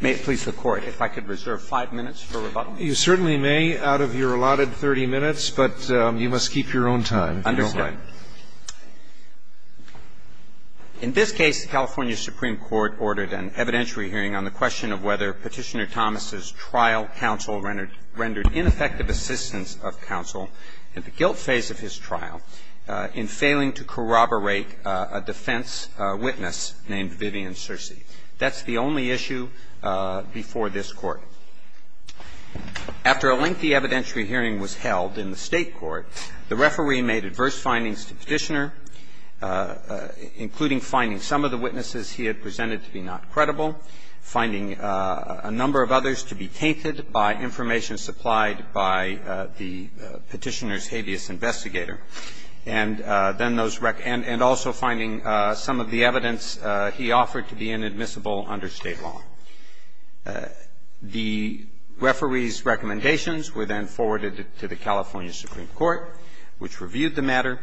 May it please the Court, if I could reserve five minutes for rebuttal? You certainly may, out of your allotted 30 minutes, but you must keep your own time. Understood. In this case, the California Supreme Court ordered an evidentiary hearing on the question of whether Petitioner Thomas's trial counsel rendered ineffective assistance of counsel in the guilt phase of his trial in failing to corroborate a defense witness named Vivian Searcy. That's the only issue before this Court. After a lengthy evidentiary hearing was held in the State court, the referee made adverse findings to Petitioner, including finding some of the witnesses he had presented to be not credible, finding a number of others to be tainted by information supplied by the Petitioner's habeas investigator, and then those witnesses, and also finding some of the evidence he offered to be inadmissible under State law. The referee's recommendations were then forwarded to the California Supreme Court, which reviewed the matter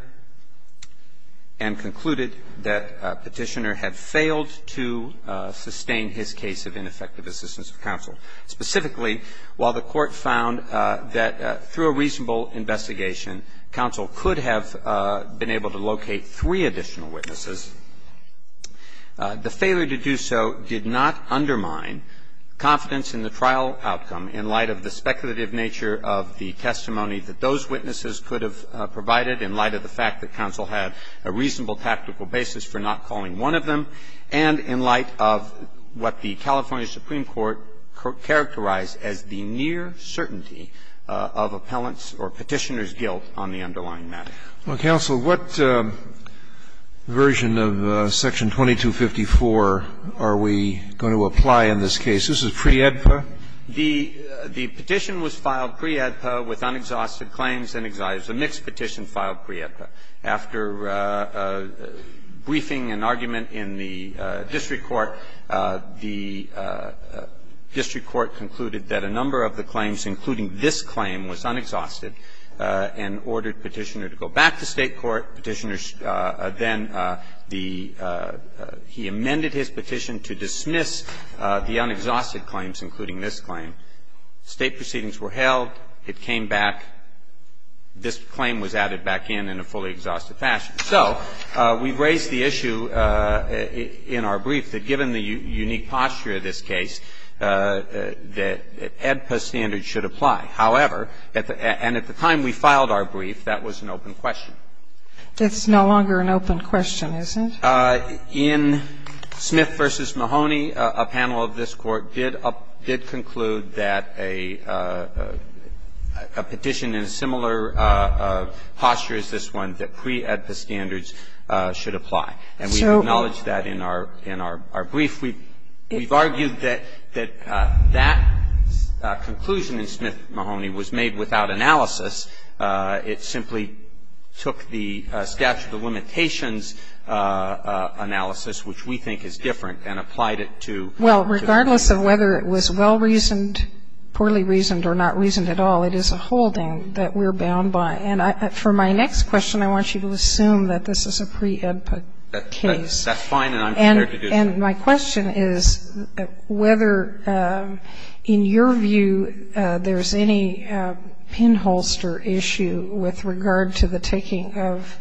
and concluded that Petitioner had failed to sustain his case of ineffective assistance of counsel. Specifically, while the Court found that through a reasonable investigation, counsel could have been able to locate three additional witnesses, the failure to do so did not undermine confidence in the trial outcome in light of the speculative nature of the testimony that those witnesses could have provided in light of the fact that counsel had a reasonable tactical basis for not calling one of them, and in light of what the California Supreme Court characterized as the near certainty of appellant's or Petitioner's guilt on the underlying matter. Scalia. Well, counsel, what version of Section 2254 are we going to apply in this case? This is pre-AEDPA? The petition was filed pre-AEDPA with unexhausted claims and exiles. A mixed petition filed pre-AEDPA. After briefing an argument in the district court, the district court concluded that a number of the claims, including this claim, was unexhausted and ordered Petitioner to go back to State court. Petitioner then the he amended his petition to dismiss the unexhausted claims, including this claim. State proceedings were held. It came back. This claim was added back in in a fully exhausted fashion. So we've raised the issue in our brief that given the unique posture of this case, that AEDPA standards should apply. However, and at the time we filed our brief, that was an open question. That's no longer an open question, is it? In Smith v. Mahoney, a panel of this Court did conclude that a petition in a similar posture as this one, that pre-AEDPA standards should apply. And we've acknowledged that in our brief. We've argued that that conclusion in Smith v. Mahoney was made without analysis. It simply took the statute of limitations analysis, which we think is different, and applied it to the case. Well, regardless of whether it was well-reasoned, poorly reasoned, or not reasoned at all, it is a holding that we're bound by. And for my next question, I want you to assume that this is a pre-AEDPA case. That's fine, and I'm prepared to do that. And my question is whether, in your view, there's any pinholster issue with regard to the taking of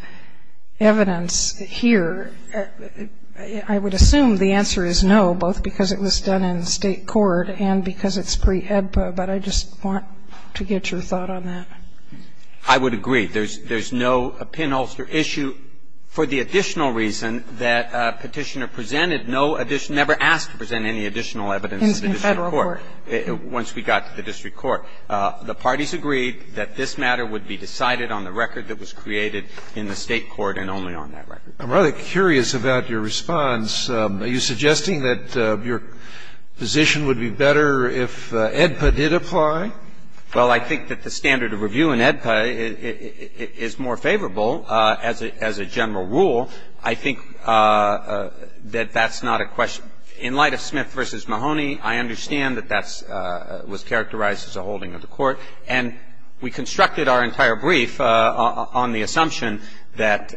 evidence here. I would assume the answer is no, both because it was done in State court and because it's pre-AEDPA, but I just want to get your thought on that. I would agree. There's no pinholster issue. For the additional reason that Petitioner presented no additional – never asked to present any additional evidence to the district court once we got to the district court, the parties agreed that this matter would be decided on the record that was created in the State court and only on that record. I'm rather curious about your response. Are you suggesting that your position would be better if AEDPA did apply? Well, I think that the standard of review in AEDPA is more favorable as a general rule. I think that that's not a question. In light of Smith v. Mahoney, I understand that that was characterized as a holding of the court. And we constructed our entire brief on the assumption that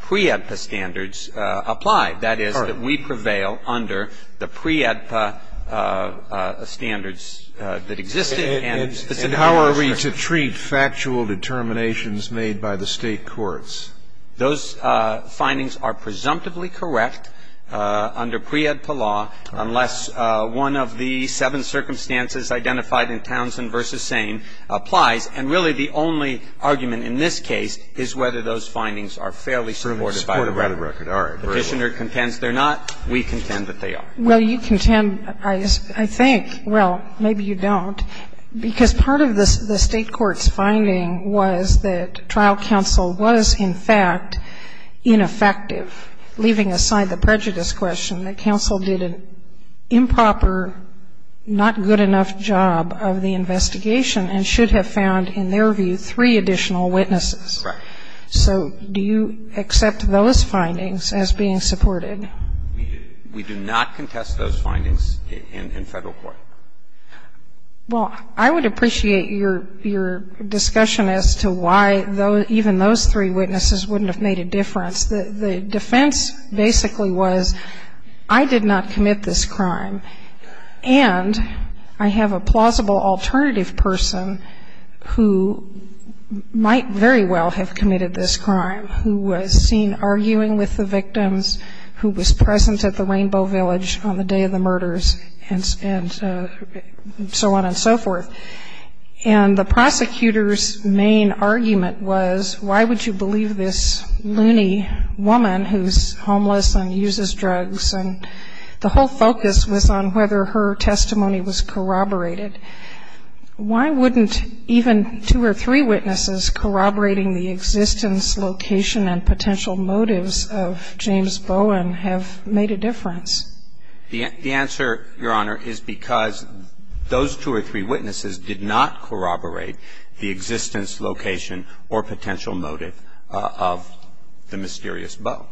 pre-AEDPA standards apply. That is, that we prevail under the pre-AEDPA standards that exist in the State courts. And how are we to treat factual determinations made by the State courts? Those findings are presumptively correct under pre-AEDPA law unless one of the seven circumstances identified in Townsend v. Sane applies. And really the only argument in this case is whether those findings are fairly supported by the record. Petitioner contends they're not. We contend that they are. Well, you contend, I think – well, maybe you don't. Because part of the State court's finding was that trial counsel was, in fact, ineffective, leaving aside the prejudice question that counsel did an improper, not good enough job of the investigation and should have found, in their view, three additional witnesses. So do you accept those findings as being supported? We do not contest those findings in Federal court. Well, I would appreciate your discussion as to why even those three witnesses wouldn't have made a difference. The defense basically was, I did not commit this crime, and I have a plausible alternative person who might very well have committed this crime, who was seen arguing with the victims, who was present at the Rainbow Village on the day of the murder, and so on and so forth. And the prosecutor's main argument was, why would you believe this loony woman who's homeless and uses drugs? And the whole focus was on whether her testimony was corroborated. Why wouldn't even two or three witnesses corroborating the existence, location, and potential motives of James Bowen have made a difference? The answer, Your Honor, is because those two or three witnesses did not corroborate the existence, location, or potential motive of the mysterious Bowen.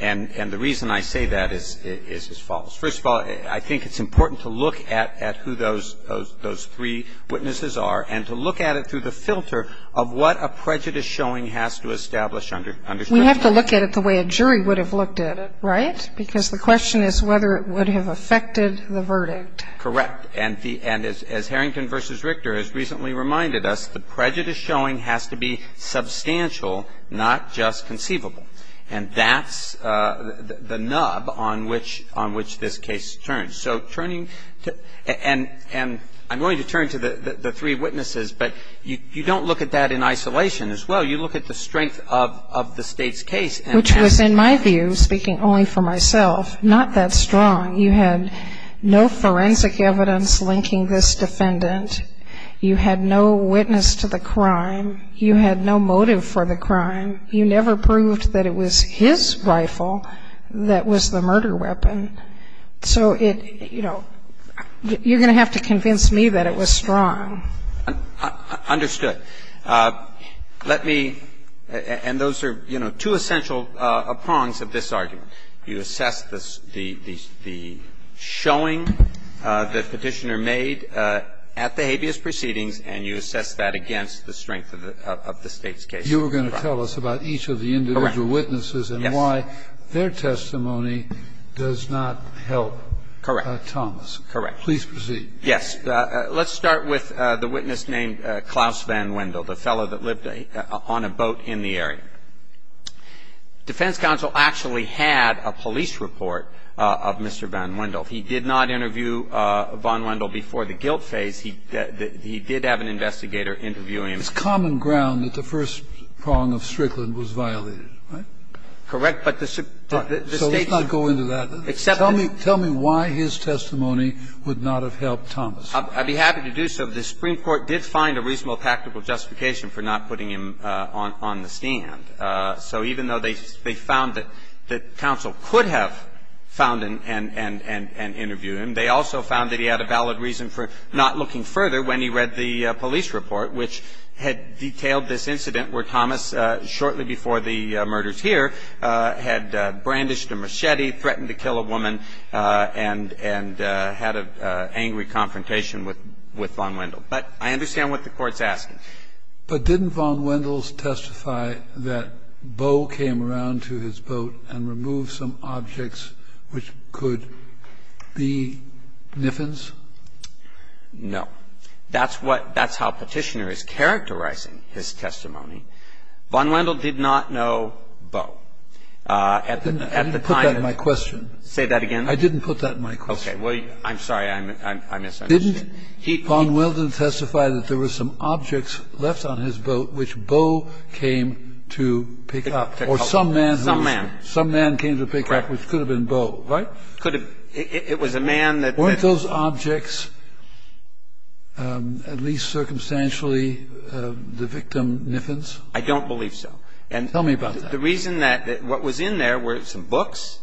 And the reason I say that is as follows. First of all, I think it's important to look at who those three witnesses are and to look at it through the filter of what a prejudice showing has to establish under scrutiny. We have to look at it the way a jury would have looked at it, right? Because the question is whether it would have affected the verdict. Correct. And the end is, as Harrington v. Richter has recently reminded us, the prejudice showing has to be substantial, not just conceivable. And that's the nub on which this case turns. So turning to the three witnesses, but you don't look at that in isolation as well. You look at the strength of the State's case. Which was, in my view, speaking only for myself, not that strong. You had no forensic evidence linking this defendant. You had no witness to the crime. You had no motive for the crime. You never proved that it was his rifle that was the murder weapon. So it, you know, you're going to have to convince me that it was strong. Understood. Let me – and those are, you know, two essential prongs of this argument. You assess the showing that Petitioner made at the habeas proceedings, and you assess that against the strength of the State's case. You were going to tell us about each of the individual witnesses and why their testimony does not help Thomas. Correct. Correct. Please proceed. Yes. Let's start with the witness named Klaus Van Wendel, the fellow that lived on a boat in the area. Defense counsel actually had a police report of Mr. Van Wendel. He did not interview Van Wendel before the guilt phase. He did have an investigator interviewing him. It's common ground that the first prong of Strickland was violated, right? Correct. But the State's – So let's not go into that. Except that – I'll be happy to do so. The Supreme Court did find a reasonable practical justification for not putting him on the stand. So even though they found that counsel could have found and interviewed him, they also found that he had a valid reason for not looking further when he read the police report, which had detailed this incident where Thomas, shortly before the murders here, had brandished a machete, threatened to kill a woman, and had an argument with Van Wendel. But I understand what the Court's asking. But didn't Van Wendel testify that Bo came around to his boat and removed some objects which could be niffins? No. That's what – that's how Petitioner is characterizing his testimony. Van Wendel did not know Bo. At the time – I didn't put that in my question. Say that again. I didn't put that in my question. Okay. Well, I'm sorry. I misunderstood. Didn't Van Wendel testify that there were some objects left on his boat which Bo came to pick up, or some man who was – Some man. Some man came to pick up, which could have been Bo, right? Could have. It was a man that – Weren't those objects, at least circumstantially, the victim niffins? I don't believe so. And – Tell me about that. The reason that – what was in there were some books.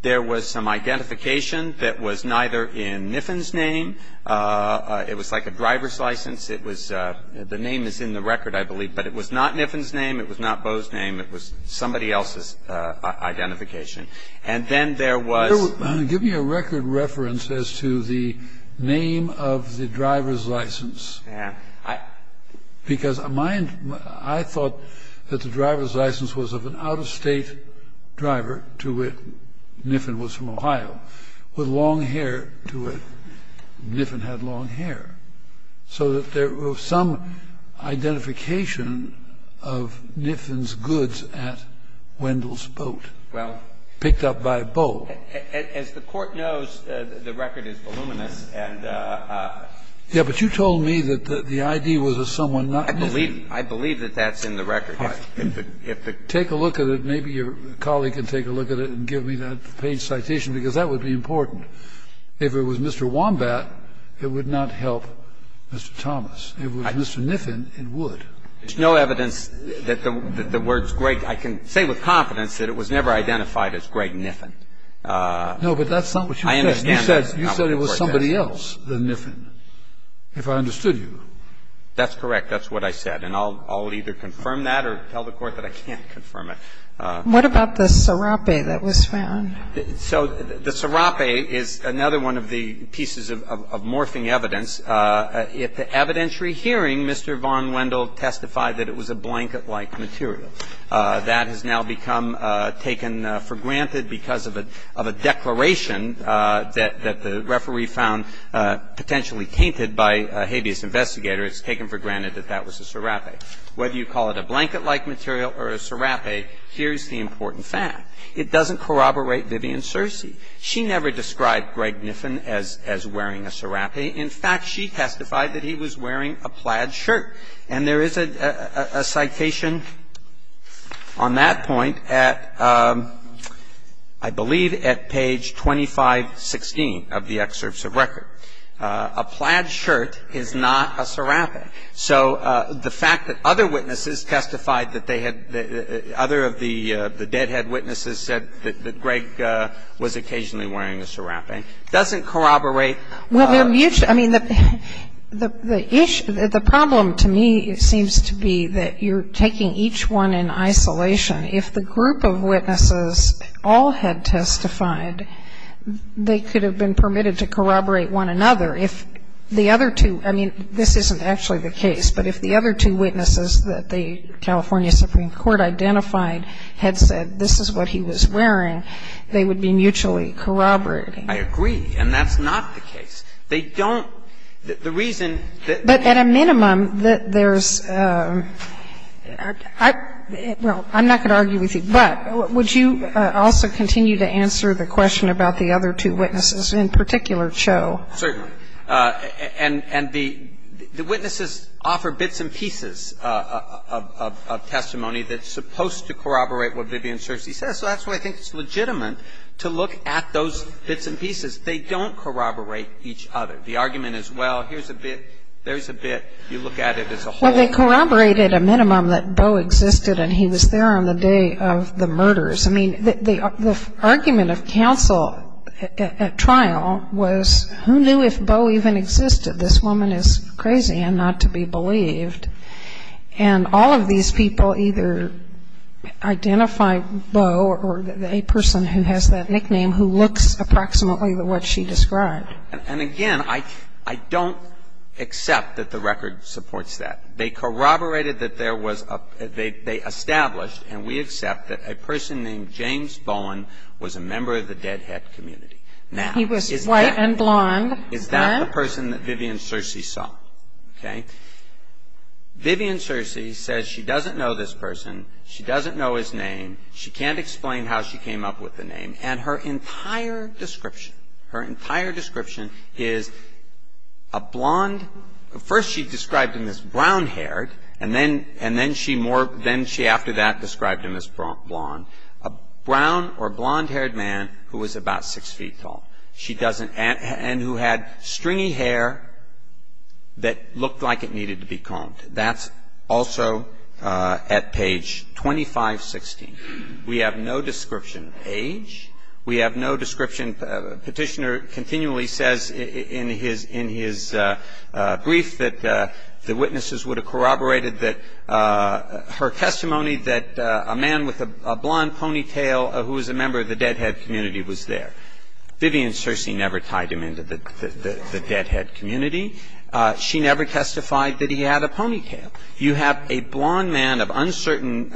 There was some identification that was neither in Niffin's name – it was like a driver's license. It was – the name is in the record, I believe. But it was not Niffin's name. It was not Bo's name. It was somebody else's identification. And then there was – Give me a record reference as to the name of the driver's license, because my – I thought that the driver's license was of an out-of-state driver to which Niffin was from Ohio, with long hair to which Niffin had long hair. So that there was some identification of Niffin's goods at Wendel's boat, picked up by Bo. Well, as the Court knows, the record is voluminous, and – Yeah, but you told me that the ID was of someone not Niffin. I believe that that's in the record. If the – Take a look at it. Maybe your colleague can take a look at it and give me that page citation, because that would be important. If it was Mr. Wombat, it would not help Mr. Thomas. If it was Mr. Niffin, it would. There's no evidence that the words Greg – I can say with confidence that it was never identified as Greg Niffin. No, but that's not what you said. I understand that. You said it was somebody else than Niffin, if I understood you. That's correct. That's what I said. And I'll either confirm that or tell the Court that I can't confirm it. What about the syrupy that was found? So the syrupy is another one of the pieces of morphing evidence. At the evidentiary hearing, Mr. von Wendel testified that it was a blanket-like material. That has now become taken for granted because of a declaration that the referee found potentially tainted by a habeas investigator. It's taken for granted that that was a syrupy. Whether you call it a blanket-like material or a syrupy, here's the important fact. It doesn't corroborate Vivian Searcy. She never described Greg Niffin as wearing a syrupy. In fact, she testified that he was wearing a plaid shirt. And there is a citation on that point at, I believe, at page 2516 of the Excerpts of Record. A plaid shirt is not a syrupy. So the fact that other witnesses testified that they had the other of the deadhead witnesses said that Greg was occasionally wearing a syrupy, doesn't corroborate Vivian Searcy. I mean, the problem to me seems to be that you're taking each one in isolation. If the group of witnesses all had testified, they could have been permitted to corroborate one another if the other two – I mean, this isn't actually the case, but if the other two witnesses that the California Supreme Court identified had said this is what he was wearing, they would be mutually corroborating. I agree, and that's not the case. They don't – the reason that the reason that the reason that the reason that the But at a minimum, there's – well, I'm not going to argue with you, but would you also continue to answer the question about the other two witnesses, in particular, Cho? Certainly. And the witnesses offer bits and pieces of testimony that's supposed to corroborate what Vivian Searcy says, so that's why I think it's legitimate to look at those bits and pieces. They don't corroborate each other. The argument is, well, here's a bit, there's a bit, you look at it as a whole. Well, they corroborate at a minimum that Bo existed and he was there on the day of the murders. I mean, the argument of counsel at trial was, who knew if Bo even existed? This woman is crazy and not to be believed. And all of these people either identify Bo or a person who has that nickname who looks approximately like what she described. And again, I don't accept that the record supports that. They corroborated that there was a, they established, and we accept, that a person named James Bowen was a member of the deadhead community. Now, is that He was white and blond. Is that the person that Vivian Searcy saw? Okay. Vivian Searcy says she doesn't know this person, she doesn't know his name, she can't explain how she came up with the name, and her entire description, her entire description is that he was a brown-haired, and then she more, then she after that described him as blond, a brown or blond-haired man who was about 6 feet tall. She doesn't, and who had stringy hair that looked like it needed to be combed. That's also at page 2516. We have no description of age. We have no description, Petitioner continually says in his, in his brief that the witnesses would have corroborated that her testimony that a man with a blond ponytail who was a member of the deadhead community was there. Vivian Searcy never tied him into the deadhead community. She never testified that he had a ponytail. You have a blond man of uncertain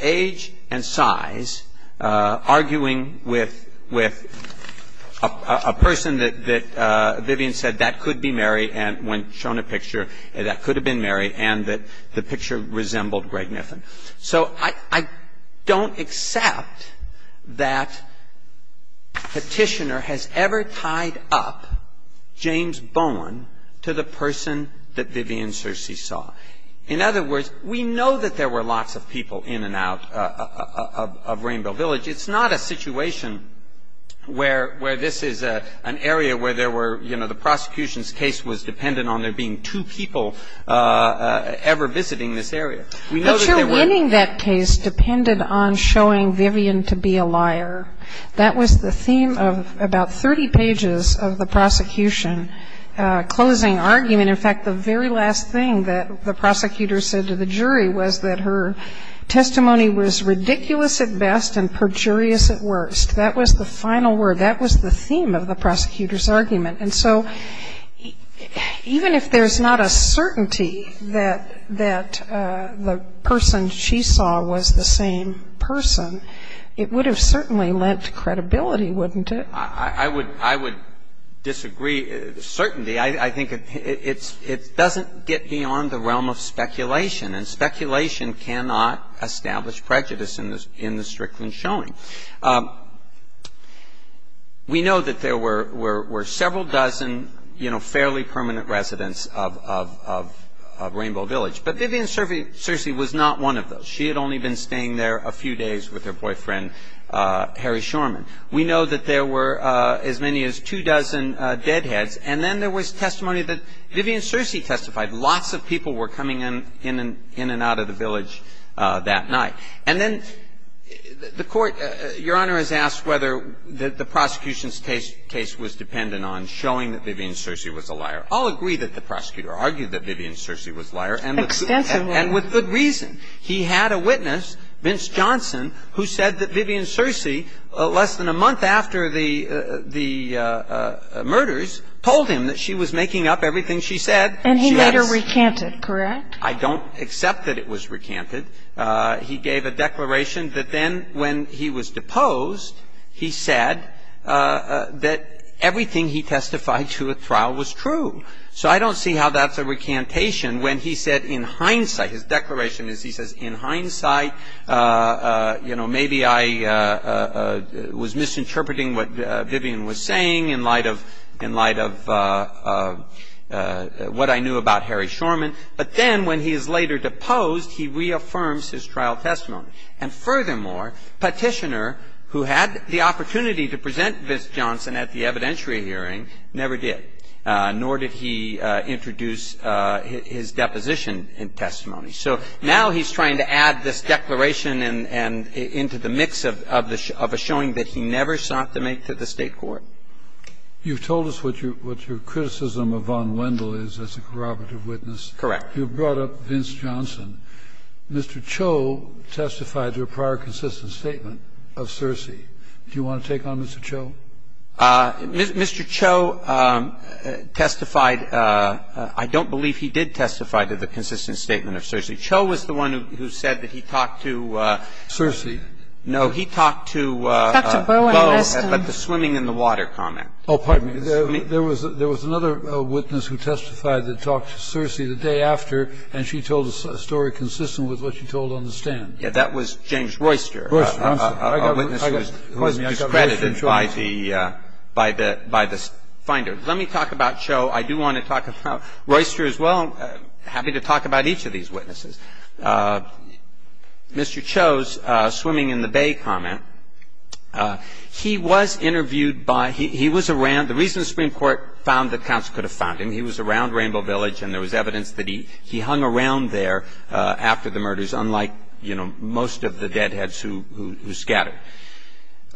age and size arguing with, with a person that, that Vivian said that could be Mary, and when shown a picture that could have been Mary, and that the picture resembled Greg Niffin. So I, I don't accept that Petitioner has ever tied up James Bowen to the person that Vivian Searcy saw. In other words, we know that there were lots of people in and out of, of, of Rainbow Village. It's not a situation where, where this is a, an area where there were, you know, the prosecution's case was dependent on there being two people ever visiting this area. We know that there were. But your ending that case depended on showing Vivian to be a liar. That was the theme of about 30 pages of the prosecution closing argument. In fact, the very last thing that the prosecutor said to the jury was that her testimony was ridiculous at best and perjurious at worst. That was the final word. That was the theme of the prosecutor's argument. And so even if there's not a certainty that, that the person she saw was the same person, it would have certainly lent credibility, wouldn't it? I, I would, I would disagree. Certainty, I, I think it, it's, it doesn't get beyond the realm of speculation. And speculation cannot establish prejudice in the, in the Strickland showing. We know that there were, were, were several dozen, you know, fairly permanent residents of, of, of, of Rainbow Village. But Vivian Cersei was not one of those. She had only been staying there a few days with her boyfriend, Harry Shorman. We know that there were as many as two dozen deadheads. And then there was testimony that Vivian Cersei testified. Lots of people were coming in, in and out of the village that night. And then the Court, Your Honor has asked whether the, the prosecution's case, case was dependent on showing that Vivian Cersei was a liar. I'll agree that the prosecutor argued that Vivian Cersei was a liar. Extensively. And with good reason. He had a witness, Vince Johnson, who said that Vivian Cersei, less than a month after the, the murders, told him that she was making up everything she said. And he later recanted, correct? I don't accept that it was recanted. He gave a declaration that then when he was deposed, he said that everything he testified to at trial was true. So I don't see how that's a recantation when he said in hindsight, his declaration is he says in hindsight, you know, maybe I was misinterpreting what Vivian was saying in light of, in light of what I knew about Harry Shorman. But then when he is later deposed, he reaffirms his trial testimony. And furthermore, Petitioner, who had the opportunity to present Vince Johnson at the evidentiary hearing, never did. Nor did he introduce his deposition in testimony. So now he's trying to add this declaration and, and into the mix of, of a showing that he never sought to make to the State court. You've told us what your, what your criticism of Von Wendell is as a corroborative witness. Correct. You brought up Vince Johnson. Mr. Cho testified to a prior consistent statement of Cersei. Do you want to take on Mr. Cho? Mr. Cho testified. I don't believe he did testify to the consistent statement of Cersei. Cho was the one who said that he talked to Cersei. No, he talked to Bo, but the swimming in the water comment. Oh, pardon me. There was, there was another witness who testified that talked to Cersei the day after, and she told a story consistent with what she told on the stand. Yeah, that was James Royster. Royster. I'm sorry. A witness who was discredited by the, by the, by the finder. Let me talk about Cho. I do want to talk about Royster as well. Happy to talk about each of these witnesses. Mr. Cho's swimming in the bay comment, he was interviewed by, he, he was around, the reason the Supreme Court found that counsel could have found him, he was around Rainbow Village and there was evidence that he, he hung around there after the murders, unlike, you know, most of the deadheads who, who, who scattered.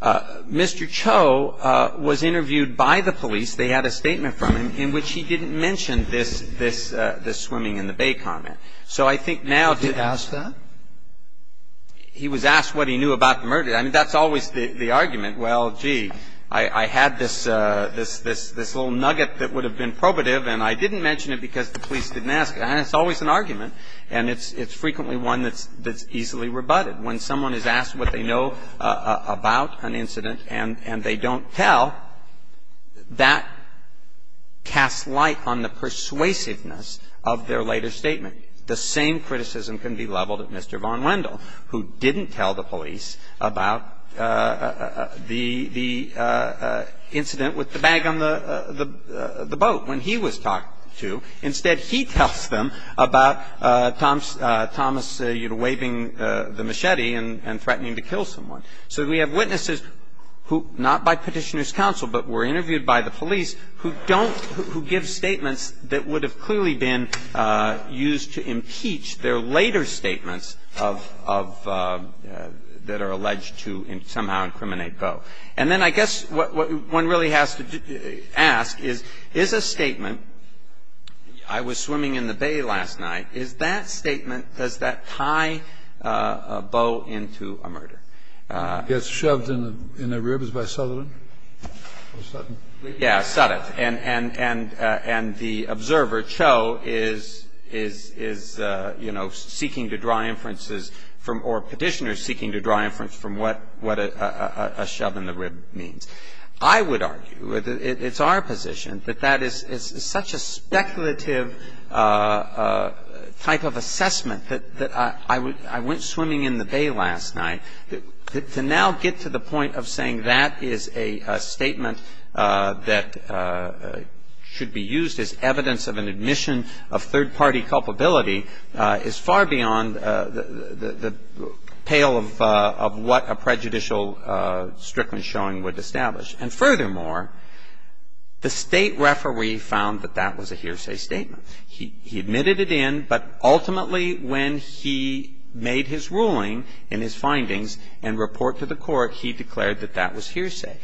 Mr. Cho was interviewed by the police. They had a statement from him in which he didn't mention this, this, this swimming in the bay comment. So I think now to Did he ask that? He was asked what he knew about the murder. I mean, that's always the, the argument. Well, gee, I, I had this, this, this, this little nugget that would have been probative and I didn't mention it because the police didn't ask it. And it's always an argument. And it's, it's frequently one that's, that's easily rebutted. When someone is asked what they know about an incident and, and they don't tell, that casts light on the persuasiveness of their later statement. The same criticism can be leveled at Mr. von Wendel, who didn't tell the police about the, the incident with the bag on the, the, the boat when he was talked to. Instead, he tells them about Thomas, Thomas, you know, waving the machete and, and threatening to kill someone. So we have witnesses who, not by petitioner's counsel, but were interviewed by the police who don't, who give statements that would have clearly been used to impeach their later statements of, of, that are alleged to somehow incriminate Boe. And then I guess what, what one really has to ask is, is a statement, I was swimming in the bay last night, is that statement, does that tie Boe into a murder? It gets shoved in the, in the ribs by Sutherland? Or Sutton? Yeah, Sutton. And, and, and, and the observer, Cho, is, is, is, you know, seeking to draw inferences from, or petitioners seeking to draw inferences from what, what a, a, a, a shove in the rib means. I would argue, it's our position, that that is, is such a speculative type of assessment that, that I would, I went swimming in the bay last night, that, to now get to the point of saying that is a statement that should be used as evidence of an admission of third-party culpability is far beyond the, the, the pale of, of what a prejudicial Strickland showing would establish. And furthermore, the State referee found that that was a hearsay statement. He, he admitted it in, but ultimately when he made his ruling in his findings and report to the court, he declared that that was hearsay.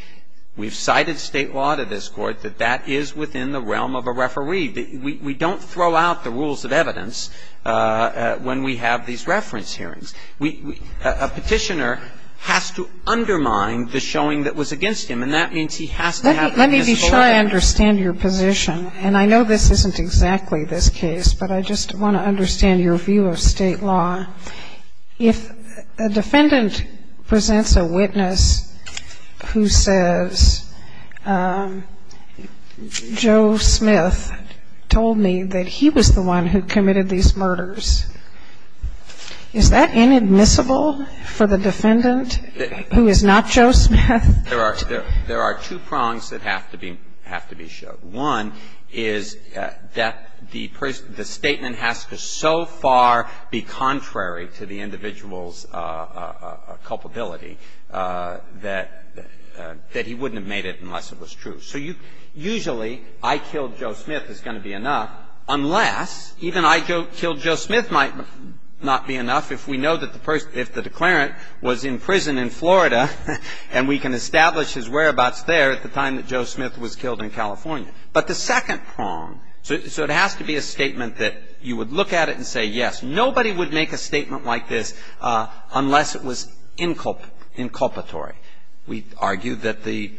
We've cited State law to this Court that that is within the realm of a referee. We, we don't throw out the rules of evidence when we have these reference hearings. We, we, a petitioner has to undermine the showing that was against him, and that means he has to have an admissible evidence. I just want to understand your position, and I know this isn't exactly this case, but I just want to understand your view of State law. If a defendant presents a witness who says Joe Smith told me that he was the one who committed these murders, is that inadmissible for the defendant who is not Joe Smith? There are, there are two prongs that have to be, have to be showed. One is that the person, the statement has to so far be contrary to the individual's culpability that, that he wouldn't have made it unless it was true. So you, usually I killed Joe Smith is going to be enough, unless even I killed Joe Smith might not be enough if we know that the person, if the declarant was in prison in Florida and we can establish his whereabouts there at the time that Joe Smith was killed in California. But the second prong, so it has to be a statement that you would look at it and say, yes, nobody would make a statement like this unless it was inculpatory. We argue that the,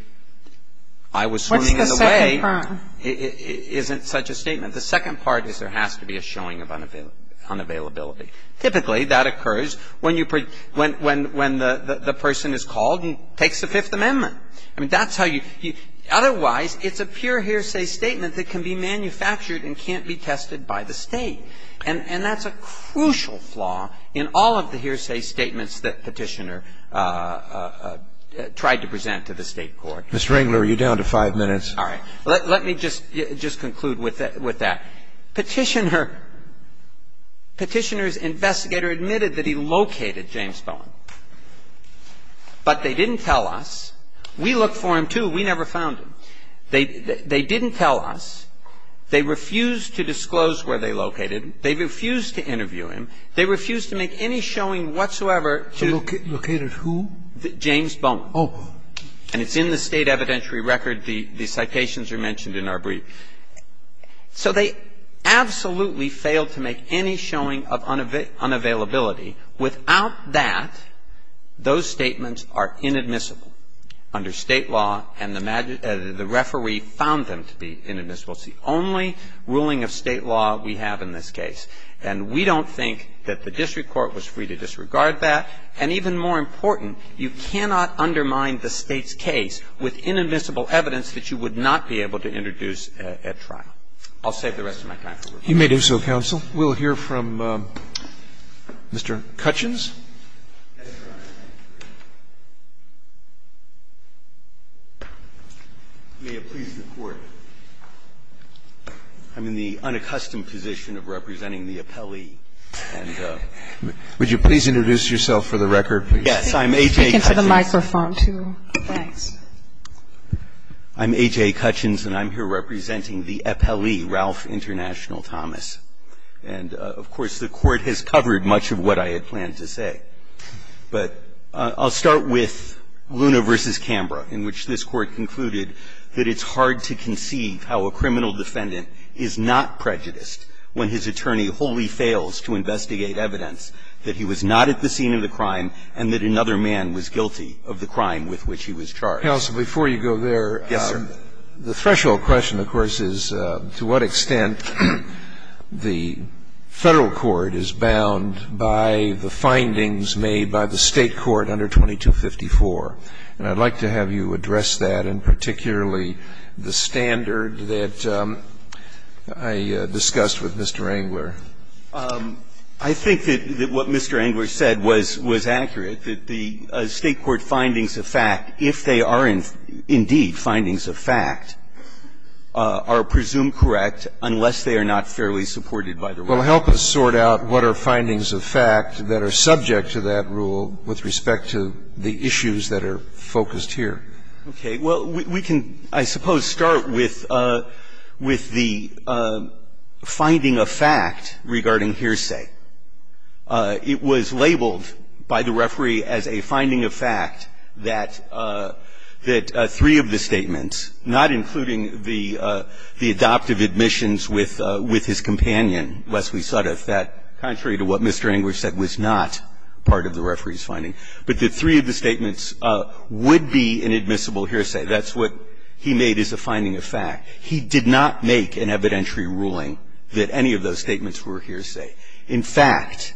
I was swimming in the wave. What's the second prong? It isn't such a statement. The second part is there has to be a showing of unavailability. Typically, that occurs when you, when the person is called and takes the Fifth Amendment. I mean, that's how you, otherwise it's a pure hearsay statement that can be manufactured and can't be tested by the State. And that's a crucial flaw in all of the hearsay statements that Petitioner tried to present to the State court. Mr. Engler, you're down to five minutes. All right. Let me just conclude with that. Petitioner, Petitioner's investigator admitted that he located James Bowen. But they didn't tell us. We looked for him, too. We never found him. They didn't tell us. They refused to disclose where they located him. They refused to interview him. They refused to make any showing whatsoever. So located who? James Bowen. Oh. And it's in the State evidentiary record. The citations are mentioned in our brief. So they absolutely failed to make any showing of unavailability. Without that, those statements are inadmissible under State law, and the referee found them to be inadmissible. It's the only ruling of State law we have in this case. And we don't think that the district court was free to disregard that. And even more important, you cannot undermine the State's case with inadmissible evidence that you would not be able to introduce at trial. I'll save the rest of my time for rebuttal. You may do so, counsel. We'll hear from Mr. Cutchins. May it please the Court. I'm in the unaccustomed position of representing the appellee. Would you please introduce yourself for the record? Yes. I'm A.J. Cutchins. I'm A.J. Cutchins, and I'm here representing the appellee, Ralph International Thomas. And, of course, the Court has covered much of what I had planned to say. But I'll start with Luna v. Canberra, in which this Court concluded that it's hard to conceive how a criminal defendant is not prejudiced when his attorney wholly fails to investigate evidence that he was not at the scene of the crime and that another man was guilty of the crime with which he was charged. Counsel, before you go there. Yes, sir. The threshold question, of course, is to what extent the Federal court is bound by the findings made by the State court under 2254. And I'd like to have you address that, and particularly the standard that I discussed with Mr. Engler. I think that what Mr. Engler said was accurate, that the State court findings of fact, if they are indeed findings of fact, are presumed correct unless they are not fairly supported by the rule. Well, help us sort out what are findings of fact that are subject to that rule with respect to the issues that are focused here. Okay. Well, we can, I suppose, start with the finding of fact regarding hearsay. It was labeled by the referee as a finding of fact that three of the statements, not including the adoptive admissions with his companion, Leslie Sudduth, that, contrary to what Mr. Engler said, was not part of the referee's finding. But that three of the statements would be inadmissible hearsay. That's what he made as a finding of fact. He did not make an evidentiary ruling that any of those statements were a hearsay. In fact,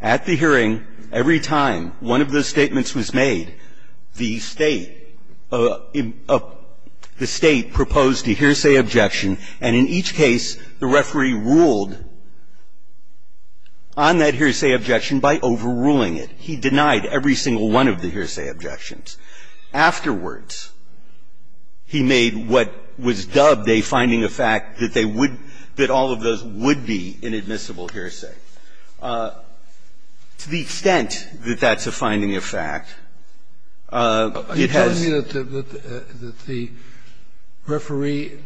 at the hearing, every time one of those statements was made, the State of the State proposed a hearsay objection, and in each case, the referee ruled on that hearsay objection by overruling it. He denied every single one of the hearsay objections. Afterwards, he made what was dubbed a finding of fact that they would be, that all of those would be inadmissible hearsay. To the extent that that's a finding of fact, it has to be that the referee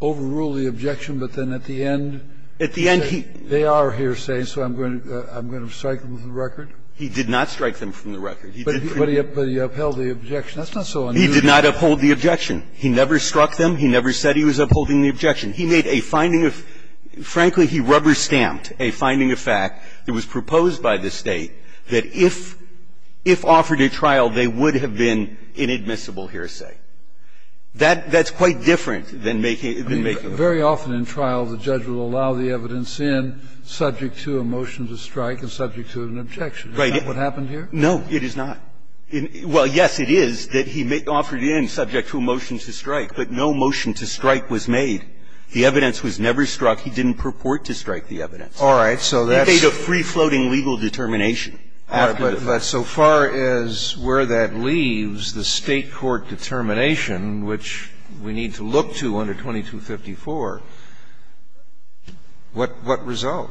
overruled the objection, but then at the end, he said, they are hearsay, so I'm going to strike them with the record. He did not strike them from the record. He did prove it. But he upheld the objection. That's not so unusual. He did not uphold the objection. He never struck them. He never said he was upholding the objection. He made a finding of – frankly, he rubber-stamped a finding of fact that was proposed by the State that if offered a trial, they would have been inadmissible hearsay. That's quite different than making a verdict. I mean, very often in trial, the judge will allow the evidence in subject to a motion to strike and subject to an objection. Is that what happened here? No, it is not. Well, yes, it is that he offered it in subject to a motion to strike, but no motion to strike was made. The evidence was never struck. He didn't purport to strike the evidence. All right. So that's – He made a free-floating legal determination. All right. But so far as where that leaves the State court determination, which we need to look to under 2254, what result?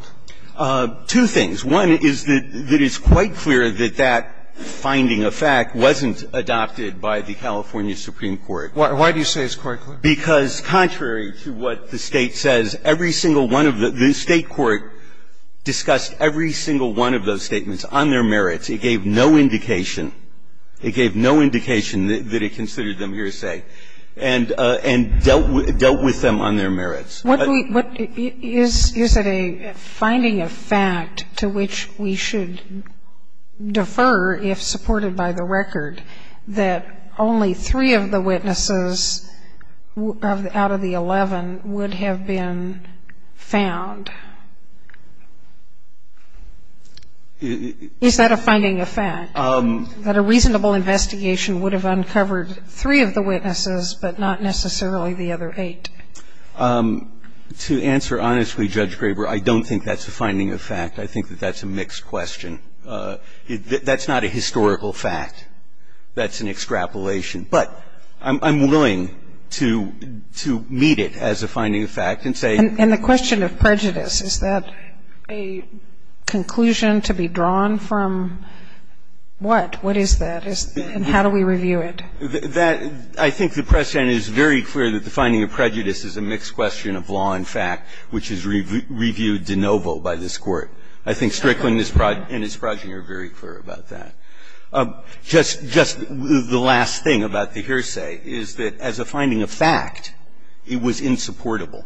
Two things. One is that it's quite clear that that finding of fact wasn't adopted by the California Supreme Court. Why do you say it's quite clear? Because contrary to what the State says, every single one of the – the State court discussed every single one of those statements on their merits. It gave no indication. It gave no indication that it considered them hearsay and dealt with them on their merits. What do we – is it a finding of fact to which we should defer if supported by the record that only three of the witnesses out of the 11 would have been found? Is that a finding of fact, that a reasonable investigation would have uncovered three of the witnesses but not necessarily the other eight? To answer honestly, Judge Graber, I don't think that's a finding of fact. I think that that's a mixed question. That's not a historical fact. That's an extrapolation. But I'm willing to meet it as a finding of fact and say – And the question of prejudice, is that a conclusion to be drawn from what? What is that? And how do we review it? That – I think the precedent is very clear that the finding of prejudice is a mixed question of law and fact, which is reviewed de novo by this Court. I think Strickland and his progeny are very clear about that. Just the last thing about the hearsay is that as a finding of fact, it was insupportable.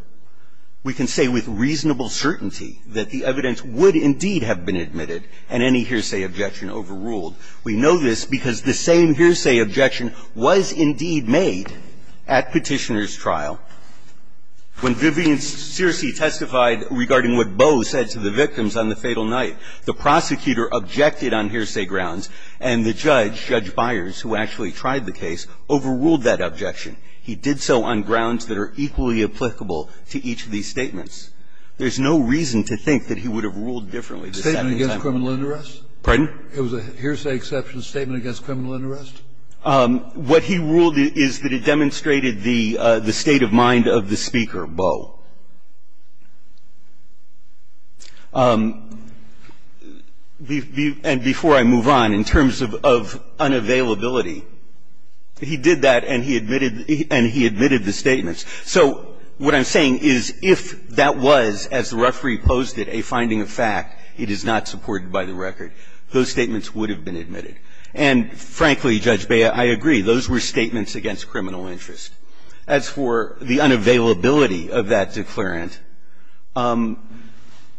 We can say with reasonable certainty that the evidence would indeed have been admitted and any hearsay objection overruled. We know this because the same hearsay objection was indeed made at Petitioner's trial. When Vivian Searcy testified regarding what Boe said to the victims on the fatal night, the prosecutor objected on hearsay grounds, and the judge, Judge Byers, who actually tried the case, overruled that objection. He did so on grounds that are equally applicable to each of these statements. There's no reason to think that he would have ruled differently. The second time around. A statement against criminal interest? It was a hearsay exception statement against criminal interest? What he ruled is that it demonstrated the state of mind of the speaker, Boe. And before I move on, in terms of unavailability, he did that and he admitted the statements. So what I'm saying is if that was, as the referee posed it, a finding of fact, it is not supported by the record. Those statements would have been admitted. And frankly, Judge Beyer, I agree. Those were statements against criminal interest. As for the unavailability of that declarant,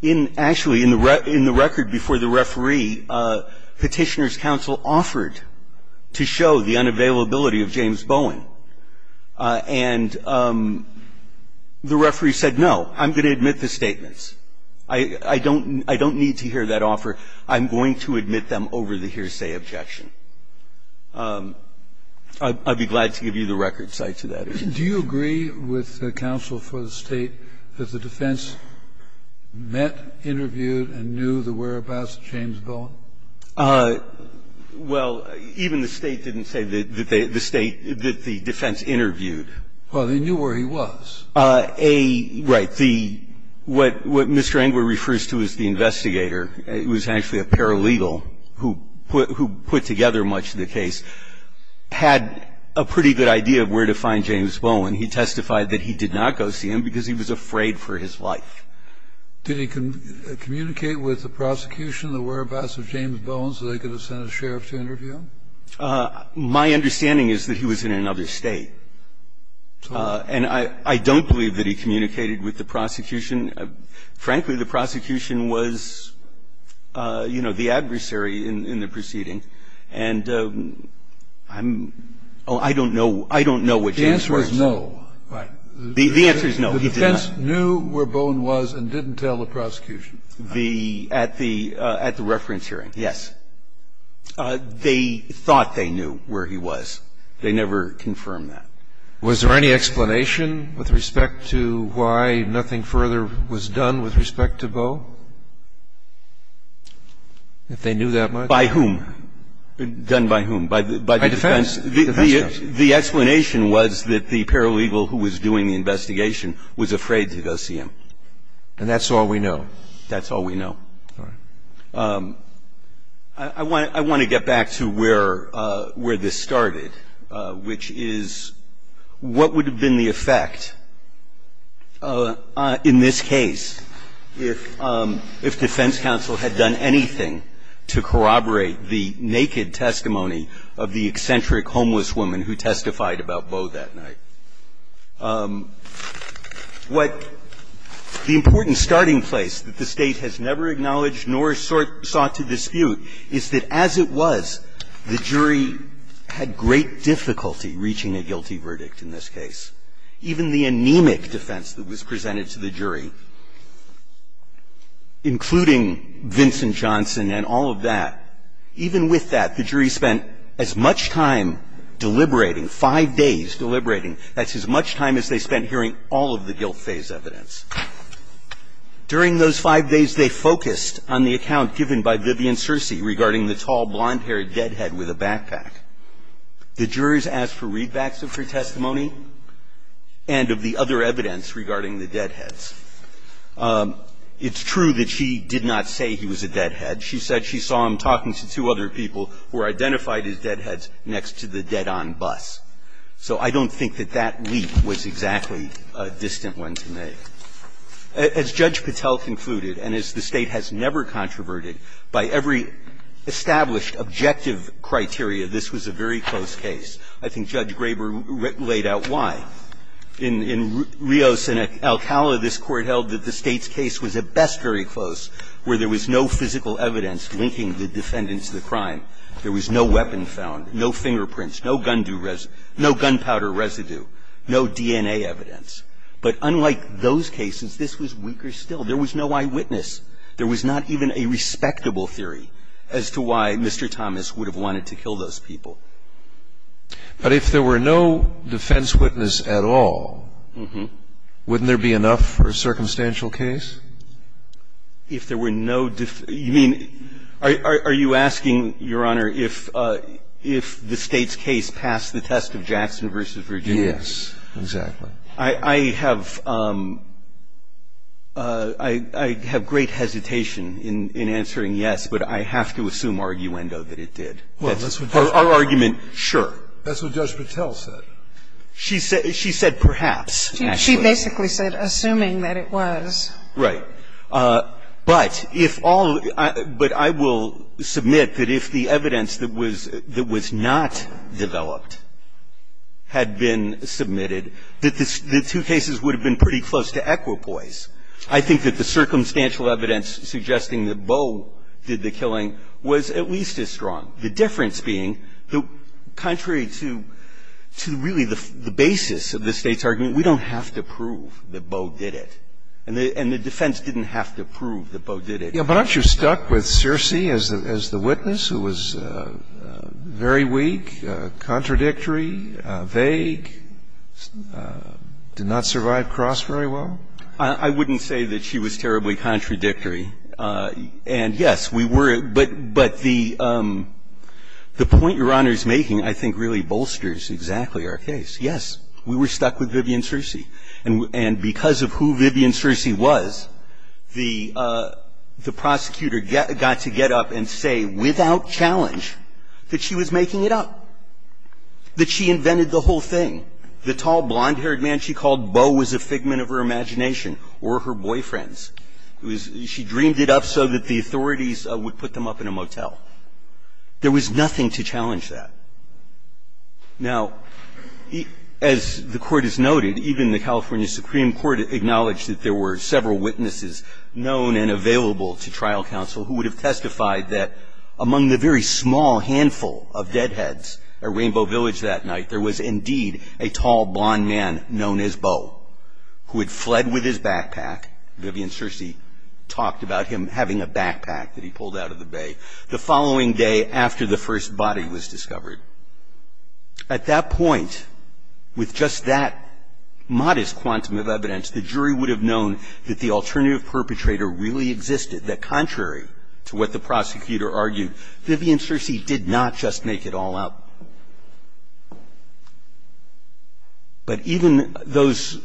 in actually in the record before the referee, Petitioner's counsel offered to show the unavailability of James Bowen. And the referee said, no, I'm going to admit the statements. I don't need to hear that offer. I'm going to admit them over the hearsay objection. I'd be glad to give you the record cite to that. Do you agree with the counsel for the State that the defense met, interviewed and knew the whereabouts of James Bowen? Well, even the State didn't say that the State, that the defense interviewed. Well, they knew where he was. A, right. But the, what Mr. Engler refers to as the investigator, who was actually a paralegal who put together much of the case, had a pretty good idea of where to find James Bowen. He testified that he did not go see him because he was afraid for his life. Did he communicate with the prosecution the whereabouts of James Bowen so they could have sent a sheriff to interview him? My understanding is that he was in another State. And I don't believe that he communicated with the prosecution. Frankly, the prosecution was, you know, the adversary in the proceeding. And I'm oh, I don't know. I don't know what James Bowen said. The answer is no. Right. The answer is no. He did not. The defense knew where Bowen was and didn't tell the prosecution. The, at the reference hearing, yes. They thought they knew where he was. They never confirmed that. Was there any explanation with respect to why nothing further was done with respect to Bow? If they knew that much. By whom? Done by whom? By defense. By defense. The explanation was that the paralegal who was doing the investigation was afraid to go see him. And that's all we know. That's all we know. All right. I want to get back to where this started, which is what would have been the effect in this case if defense counsel had done anything to corroborate the naked testimony of the eccentric homeless woman who testified about Bow that night? What the important starting place that the State has never acknowledged nor sought to dispute is that as it was, the jury had great difficulty reaching a guilty verdict in this case. Even the anemic defense that was presented to the jury, including Vincent Johnson and all of that, even with that, the jury spent as much time deliberating, five days deliberating, that's as much time as they spent hearing all of the guilt phase evidence. During those five days, they focused on the account given by Vivian Searcy regarding the tall, blonde-haired deadhead with a backpack. The jurors asked for readbacks of her testimony and of the other evidence regarding the deadheads. It's true that she did not say he was a deadhead. She said she saw him talking to two other people who were identified as deadheads next to the dead-on bus. So I don't think that that leap was exactly a distant one to make. As Judge Patel concluded, and as the State has never controverted, by every established objective criteria, this was a very close case. I think Judge Graber laid out why. In Rios and Alcala, this Court held that the State's case was at best very close, where there was no physical evidence linking the defendant to the crime. There was no weapon found, no fingerprints, no gun powder residue, no DNA evidence. But unlike those cases, this was weaker still. There was no eyewitness. There was not even a respectable theory as to why Mr. Thomas would have wanted to kill those people. But if there were no defense witness at all, wouldn't there be enough for a circumstantial case? If there were no defense? If there were no defense? You mean, are you asking, Your Honor, if the State's case passed the test of Jackson v. Virginia? Yes, exactly. I have great hesitation in answering yes, but I have to assume arguendo that it did. Well, that's what Judge Patel said. Our argument, sure. That's what Judge Patel said. She said perhaps, actually. She basically said, assuming that it was. Right. But if all of the – but I will submit that if the evidence that was not developed had been submitted, that the two cases would have been pretty close to equipoise. I think that the circumstantial evidence suggesting that Bowe did the killing was at least as strong. So the difference being, contrary to really the basis of the State's argument, we don't have to prove that Bowe did it. And the defense didn't have to prove that Bowe did it. But aren't you stuck with Searcy as the witness, who was very weak, contradictory, vague, did not survive cross very well? I wouldn't say that she was terribly contradictory. And, yes, we were. But the point Your Honor is making, I think, really bolsters exactly our case. Yes, we were stuck with Vivian Searcy. And because of who Vivian Searcy was, the prosecutor got to get up and say without challenge that she was making it up, that she invented the whole thing. The tall, blonde-haired man she called Bowe was a figment of her imagination or her boyfriend's. She dreamed it up so that the authorities would put them up in a motel. There was nothing to challenge that. Now, as the Court has noted, even the California Supreme Court acknowledged that there were several witnesses known and available to trial counsel who would have testified that among the very small handful of deadheads at Rainbow Village that night, there was indeed a tall, blonde man known as Bowe who had fled with his backpack. Vivian Searcy talked about him having a backpack that he pulled out of the bay the following day after the first body was discovered. At that point, with just that modest quantum of evidence, the jury would have known that the alternative perpetrator really existed, that contrary to what the prosecutor argued, Vivian Searcy did not just make it all up. But even those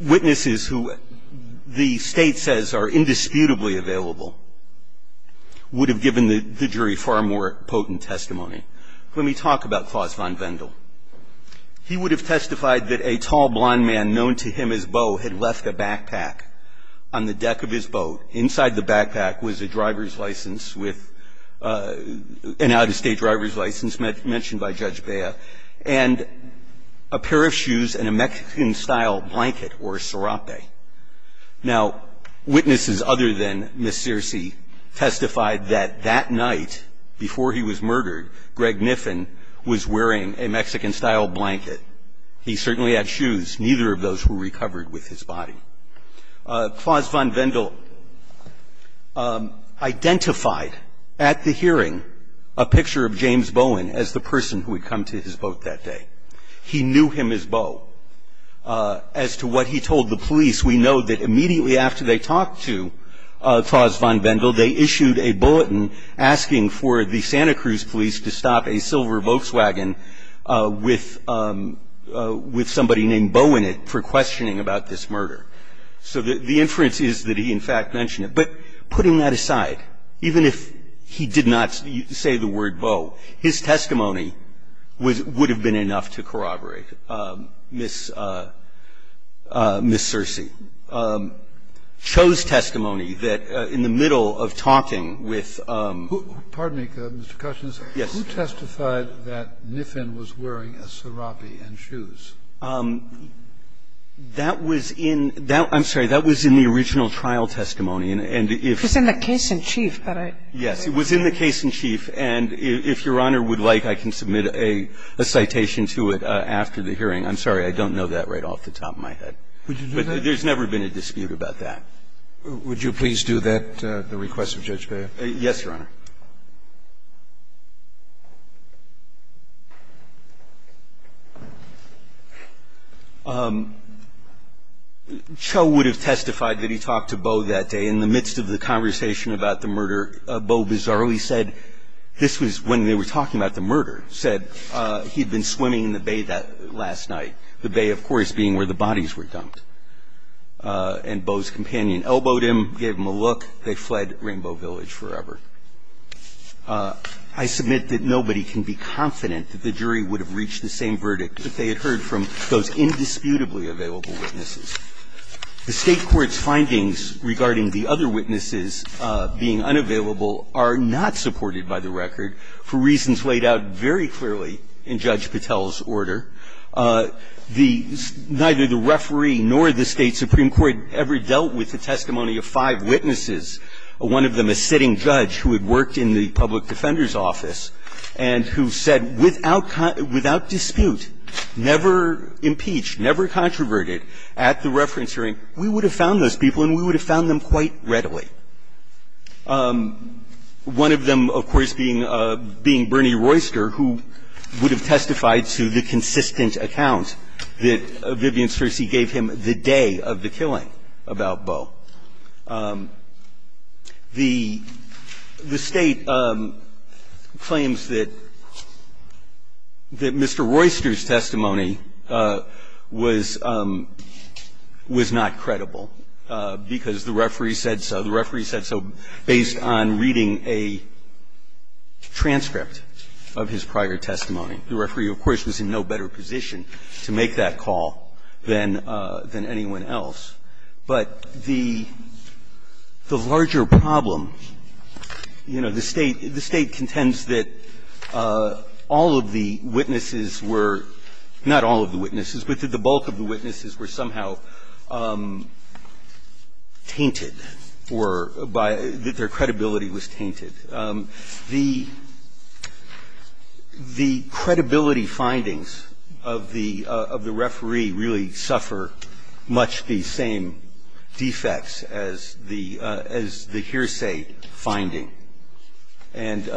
witnesses who the State says are indisputably available would have given the jury far more potent testimony. Let me talk about Klaus von Wendel. He would have testified that a tall, blonde man known to him as Bowe had left a backpack on the deck of his boat. Inside the backpack was a driver's license with an out-of-state driver's license mentioned by Judge Bea, and a pair of shoes and a Mexican-style blanket or sarape. Now, witnesses other than Ms. Searcy testified that that night, before he was murdered, Greg Niffen was wearing a Mexican-style blanket. He certainly had shoes. Neither of those were recovered with his body. Klaus von Wendel identified at the hearing a picture of James Bowen as the person who had come to his boat that day. He knew him as Bowe. As to what he told the police, we know that immediately after they talked to Klaus von Wendel, they issued a bulletin asking for the Santa Cruz police to stop a silver knife murder. So the inference is that he, in fact, mentioned it. But putting that aside, even if he did not say the word Bowe, his testimony would have been enough to corroborate. Ms. Searcy chose testimony that in the middle of talking with Mr. Cushman's Yes. Who testified that Niffen was wearing a sarape and shoes? That was in the original trial testimony. It was in the case-in-chief. Yes, it was in the case-in-chief. And if Your Honor would like, I can submit a citation to it after the hearing. I'm sorry, I don't know that right off the top of my head. Would you do that? But there's never been a dispute about that. Would you please do that at the request of Judge Baer? Yes, Your Honor. Cho would have testified that he talked to Bowe that day. In the midst of the conversation about the murder, Bowe bizarrely said, this was when they were talking about the murder, said he'd been swimming in the bay that last night, the bay, of course, being where the bodies were dumped. And Bowe's companion elbowed him, gave him a look. They fled Rainbow Village forever. I submit that nobody can be confident that the jury would have reached the same verdict that they had heard from those indisputably available witnesses. The State court's findings regarding the other witnesses being unavailable are not supported by the record for reasons laid out very clearly in Judge Patel's order. Neither the referee nor the State supreme court ever dealt with the testimony of five witnesses, one of them a sitting judge. Judge Patel was a judge who had worked in the public defender's office and who said without dispute, never impeached, never controverted at the reference hearing, we would have found those people and we would have found them quite readily. One of them, of course, being Bernie Royster, who would have testified to the consistent account that Vivian Searcy gave him the day of the killing about Bowe. The State claims that Mr. Royster's testimony was not credible, because the referee said so. The referee said so based on reading a transcript of his prior testimony. The referee, of course, was in no better position to make that call than anyone else, but the larger problem, you know, the State contends that all of the witnesses were not all of the witnesses, but that the bulk of the witnesses were somehow tainted or by their credibility was tainted. The credibility findings of the referee really suffer much less than the credibility They have much the same defects as the hearsay finding, and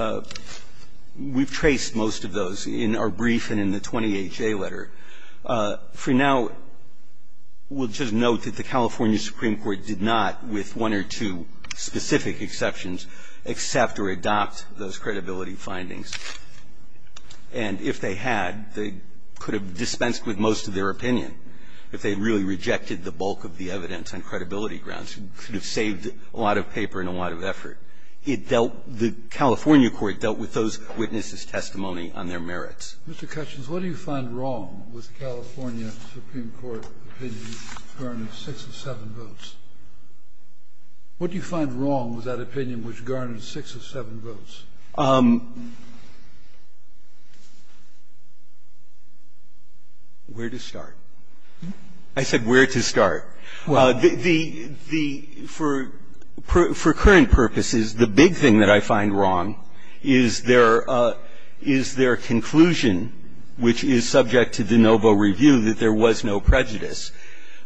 we've traced most of those in our brief and in the 28-J letter. For now, we'll just note that the California Supreme Court did not, with one or two specific exceptions, accept or adopt those credibility findings, and if they had, they could have dispensed with most of their opinion, if they really rejected the bulk of the evidence on credibility grounds. It could have saved a lot of paper and a lot of effort. It dealt the California court dealt with those witnesses' testimony on their merits. Mr. Cutchins, what do you find wrong with the California Supreme Court opinion which garnered six of seven votes? What do you find wrong with that opinion which garnered six of seven votes? Cutchins, where to start? I said where to start. The the for for current purposes, the big thing that I find wrong is their is their conclusion, which is subject to de novo review, that there was no prejudice.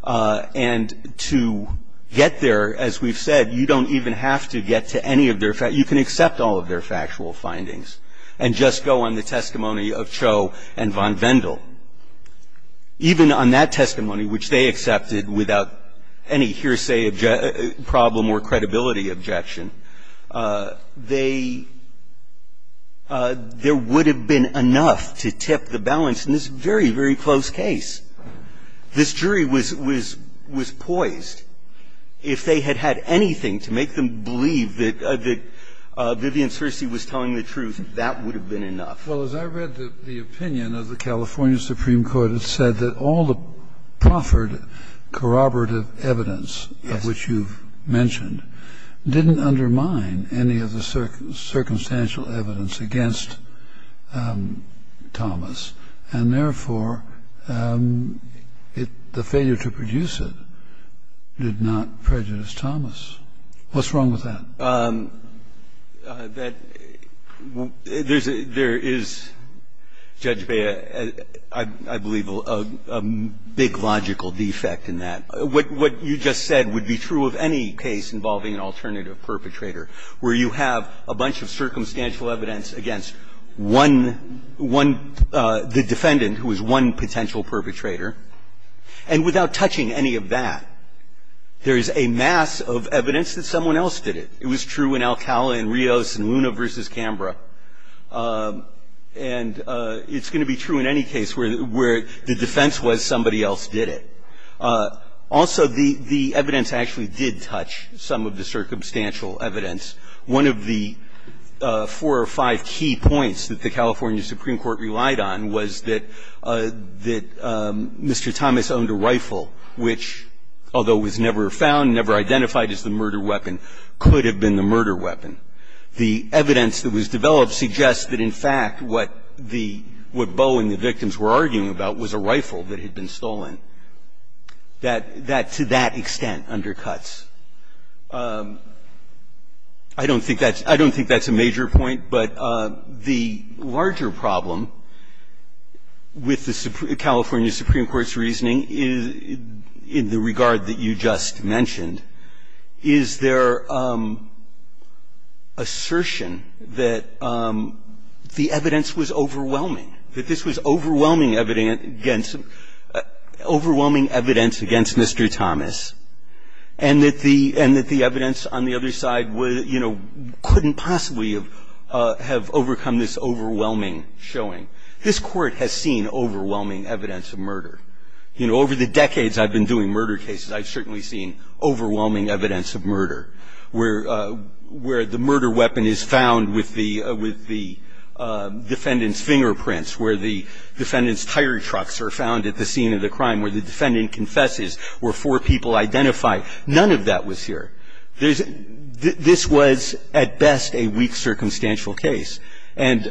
And to get there, as we've said, you don't even have to get to any of their facts. You can accept all of their factual findings and just go on the testimony of Cho and von Wendel. Even on that testimony, which they accepted without any hearsay problem or credibility objection, they there would have been enough to tip the balance in this very, very close case. This jury was was was poised, if they had had anything to make them believe that Vivian Searcy was telling the truth, that would have been enough. Well, as I read the opinion of the California Supreme Court, it said that all the proffered corroborative evidence of which you've mentioned didn't undermine any of the circumstantial evidence against Thomas, and therefore, it the failure to produce it did not prejudice Thomas. What's wrong with that? There is, Judge Bea, I believe, a big logical defect in that. What you just said would be true of any case involving an alternative perpetrator, where you have a bunch of circumstantial evidence against one, one, the defendant who is one potential perpetrator, and without touching any of that, there is a mass of evidence that someone else did it. It was true in Alcala and Rios and Luna v. Canberra. And it's going to be true in any case where the defense was somebody else did it. Also, the evidence actually did touch some of the circumstantial evidence. One of the four or five key points that the California Supreme Court relied on was that Mr. Thomas owned a rifle, which, although it was never found, never identified as the murder weapon, could have been the murder weapon. The evidence that was developed suggests that, in fact, what the Boe and the victims were arguing about was a rifle that had been stolen, that to that extent undercuts. I don't think that's a major point, but the larger problem with the California Supreme Court's reasoning in the regard that you just mentioned is their assertion that the evidence was overwhelming, that this was overwhelming evidence against Mr. Thomas, and that the evidence on the other side, you know, couldn't possibly have overcome this overwhelming showing. This Court has seen overwhelming evidence of murder. You know, over the decades I've been doing murder cases, I've certainly seen overwhelming evidence of murder, where the murder weapon is found with the defendant's fingerprints, where the defendant's tire trucks are found at the scene of the crime, where the defendant confesses, where four people identify. None of that was here. This was, at best, a weak circumstantial case, and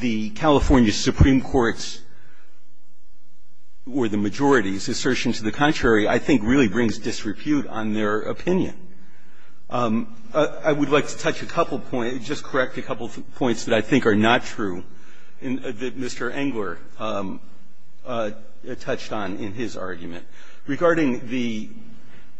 the California Supreme Court's or the majority's assertion to the contrary, I think, really brings disrepute on their opinion. I would like to touch a couple of points, just correct a couple of points that I think are not true, that Mr. Engler touched on in his argument. Regarding the,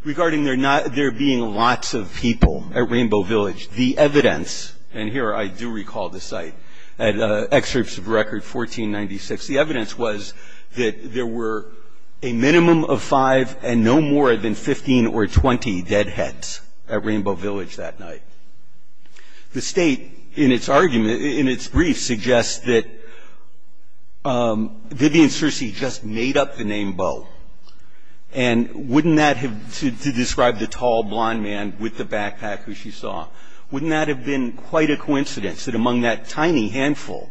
regarding there not, there being lots of people at Rainbow Village, the evidence, and here I do recall the site, at Excerpts of Record 1496, the evidence was that there were a minimum of five and no more than 15 or 20 dead heads at Rainbow Village that night. The State, in its argument, in its brief, suggests that Vivian Searcy just made up the name Beau, and wouldn't that have, to describe the tall, blond man with the backpack who she saw, wouldn't that have been quite a coincidence that among that tiny handful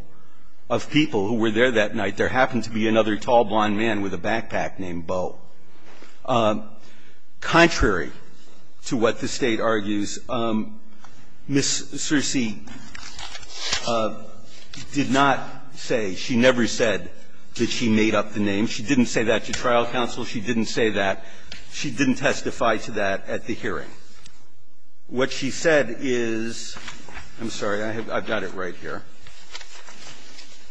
of people who were there that night, there happened to be another tall, blond man with a backpack named Beau? Contrary to what the State argues, Ms. Searcy did not say, she never said that she made up the name. She didn't say that to trial counsel. She didn't say that. She didn't testify to that at the hearing. What she said is, I'm sorry, I've got it right here.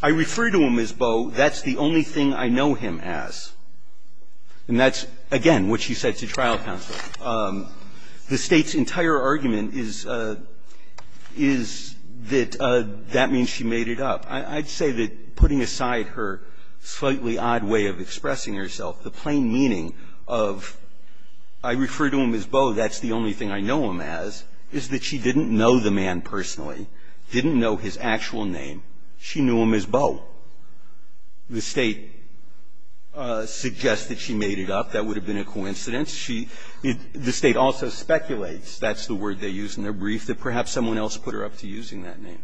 I refer to him as Beau. That's the only thing I know him as. And that's, again, what she said to trial counsel. The State's entire argument is that that means she made it up. I'd say that, putting aside her slightly odd way of expressing herself, the plain meaning of, I refer to him as Beau, that's the only thing I know him as, is that she didn't know the man personally, didn't know his actual name. She knew him as Beau. The State suggests that she made it up. That would have been a coincidence. The State also speculates, that's the word they use in their brief, that perhaps someone else put her up to using that name.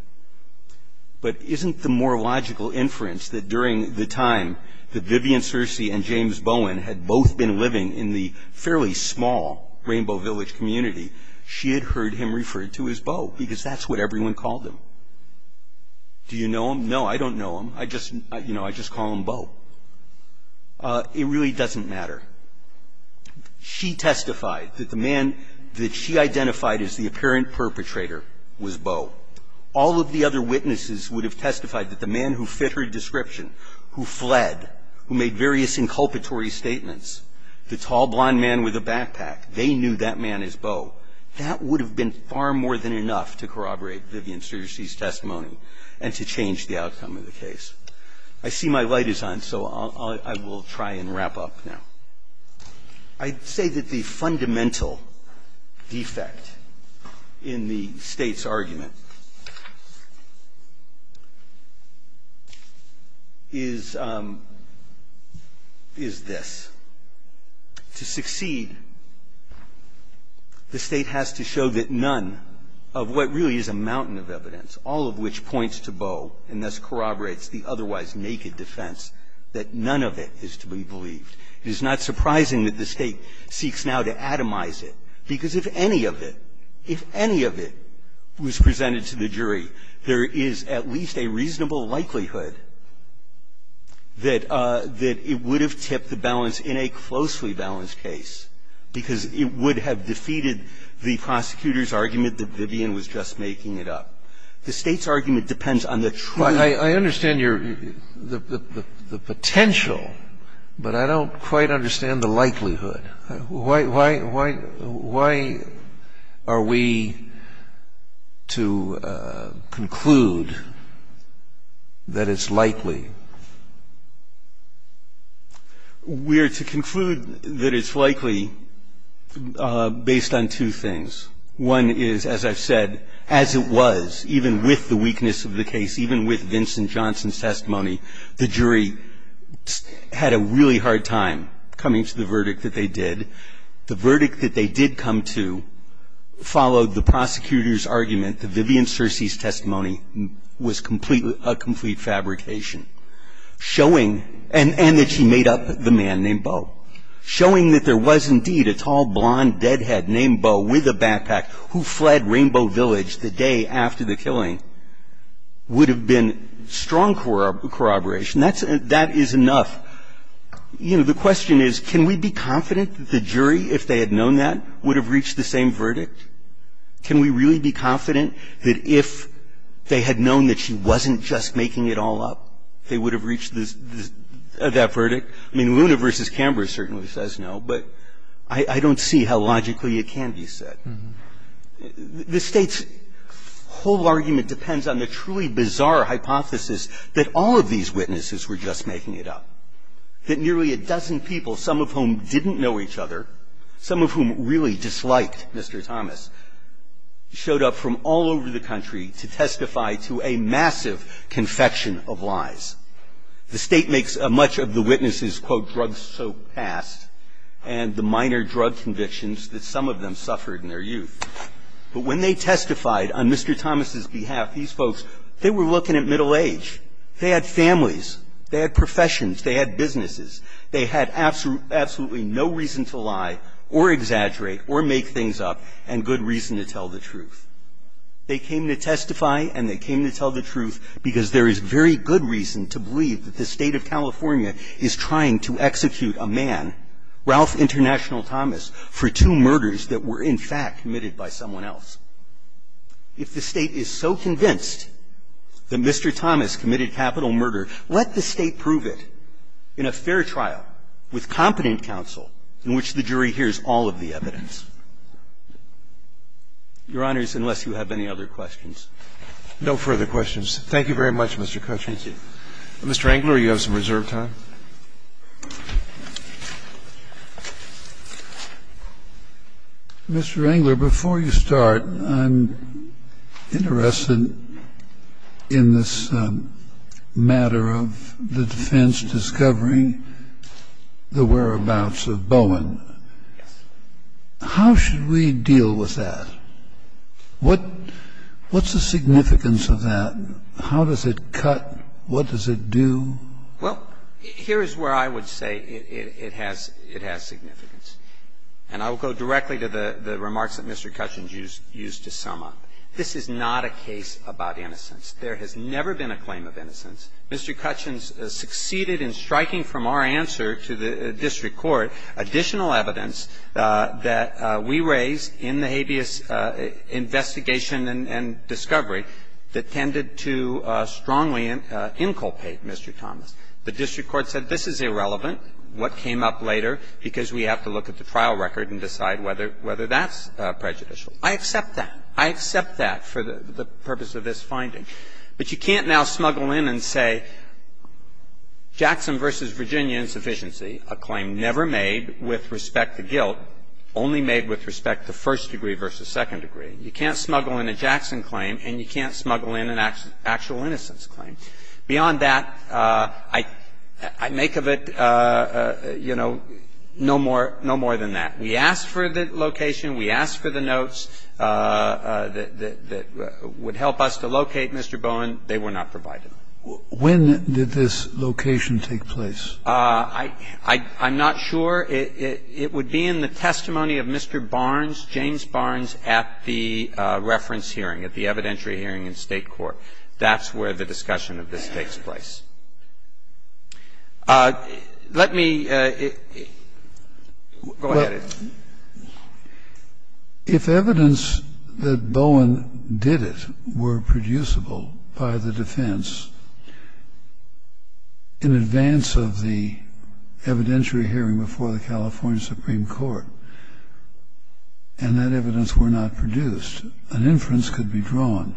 But isn't the more logical inference that during the time that Vivian Searcy and James Bowen had both been living in the fairly small Rainbow Village community, she had heard him referred to as Beau? Because that's what everyone called him. Do you know him? No, I don't know him. I just, you know, I just call him Beau. It really doesn't matter. She testified that the man that she identified as the apparent perpetrator was Beau. All of the other witnesses would have testified that the man who fit her description, who fled, who made various inculpatory statements, the tall, blonde man with a backpack, they knew that man as Beau. That would have been far more than enough to corroborate Vivian Searcy's testimony and to change the outcome of the case. I see my light is on, so I will try and wrap up now. I'd say that the fundamental defect in the State's argument is this. To succeed, the State has to show that none of what really is a mountain of evidence, all of which points to Beau, and thus corroborates the otherwise naked defense, that none of it is to be believed. It is not surprising that the State seeks now to atomize it, because if any of it, if any of it was presented to the jury, there is at least a reasonable likelihood that it would have tipped the balance in a closely balanced case, because it would have defeated the prosecutor's argument that Vivian was just making it up. The State's argument depends on the true – I understand your – the potential, but I don't quite understand the likelihood. Why are we to conclude that it's likely? We are to conclude that it's likely based on two things. One is, as I've said, as it was, even with the weakness of the case, even with Vincent Johnson's testimony, the jury had a really hard time coming to the verdict that they did. The verdict that they did come to followed the prosecutor's argument that Vivian Searcy's testimony was a complete fabrication, showing – and that she made up the man named Beau – The fact is, that this person, the juror Robert Packpack, who fled Rainbow Village the day after the killing would have been strong corroboration. That's – that is enough. You know, the question is, can we be confident that the jury, if they had known that, would have reached the same verdict? Can we really be confident that if they had known that she wasn't just making it all up, they would have reached this – that verdict? I mean, Luna v. Camber certainly says no, but I don't see how logically it can be said. The State's whole argument depends on the truly bizarre hypothesis that all of these witnesses were just making it up, that nearly a dozen people, some of whom didn't know each other, some of whom really disliked Mr. Thomas, showed up from all over the country to testify to a massive confection of lies. The State makes much of the witnesses, quote, drugs so fast, and the minor drug convictions that some of them suffered in their youth. But when they testified on Mr. Thomas's behalf, these folks, they were looking at middle age. They had families. They had professions. They had businesses. They had absolutely no reason to lie or exaggerate or make things up, and good reason to tell the truth. They came to testify, and they came to tell the truth because there is very good reason to believe that the State of California is trying to execute a man, Ralph International Thomas, for two murders that were, in fact, committed by someone else. If the State is so convinced that Mr. Thomas committed capital murder, let the judge hear the evidence. If the judge is so convinced, then the judge will give an unfair trial with competent counsel in which the jury hears all of the evidence. Your Honors, unless you have any other questions. Roberts. No further questions. Thank you very much, Mr. Cutchin. Cutchin. Thank you. Mr. Engler, you have some reserved time. Mr. Engler, before you start, I'm interested in this matter of the defense discovery, the whereabouts of Bowen. How should we deal with that? What's the significance of that? How does it cut? What does it do? Well, here is where I would say it has significance. And I will go directly to the remarks that Mr. Cutchin used to sum up. This is not a case about innocence. There has never been a claim of innocence. Mr. Cutchin succeeded in striking from our answer to the district court additional evidence that we raised in the habeas investigation and discovery that tended to strongly inculpate Mr. Thomas. The district court said this is irrelevant, what came up later, because we have to look at the trial record and decide whether that's prejudicial. I accept that. I accept that for the purpose of this finding. But you can't now smuggle in and say Jackson v. Virginia insufficiency, a claim never made with respect to guilt, only made with respect to first degree v. second degree. You can't smuggle in a Jackson claim and you can't smuggle in an actual innocence claim. Beyond that, I make of it, you know, no more than that. We asked for the location. We asked for the notes that would help us to locate Mr. Bowen. They were not provided. When did this location take place? I'm not sure. It would be in the testimony of Mr. Barnes, James Barnes, at the reference hearing, at the evidentiary hearing in State court. That's where the discussion of this takes place. Let me go ahead. If evidence that Bowen did it were producible by the defense in advance of the evidentiary hearing before the California Supreme Court, and that evidence were not produced, an inference could be drawn.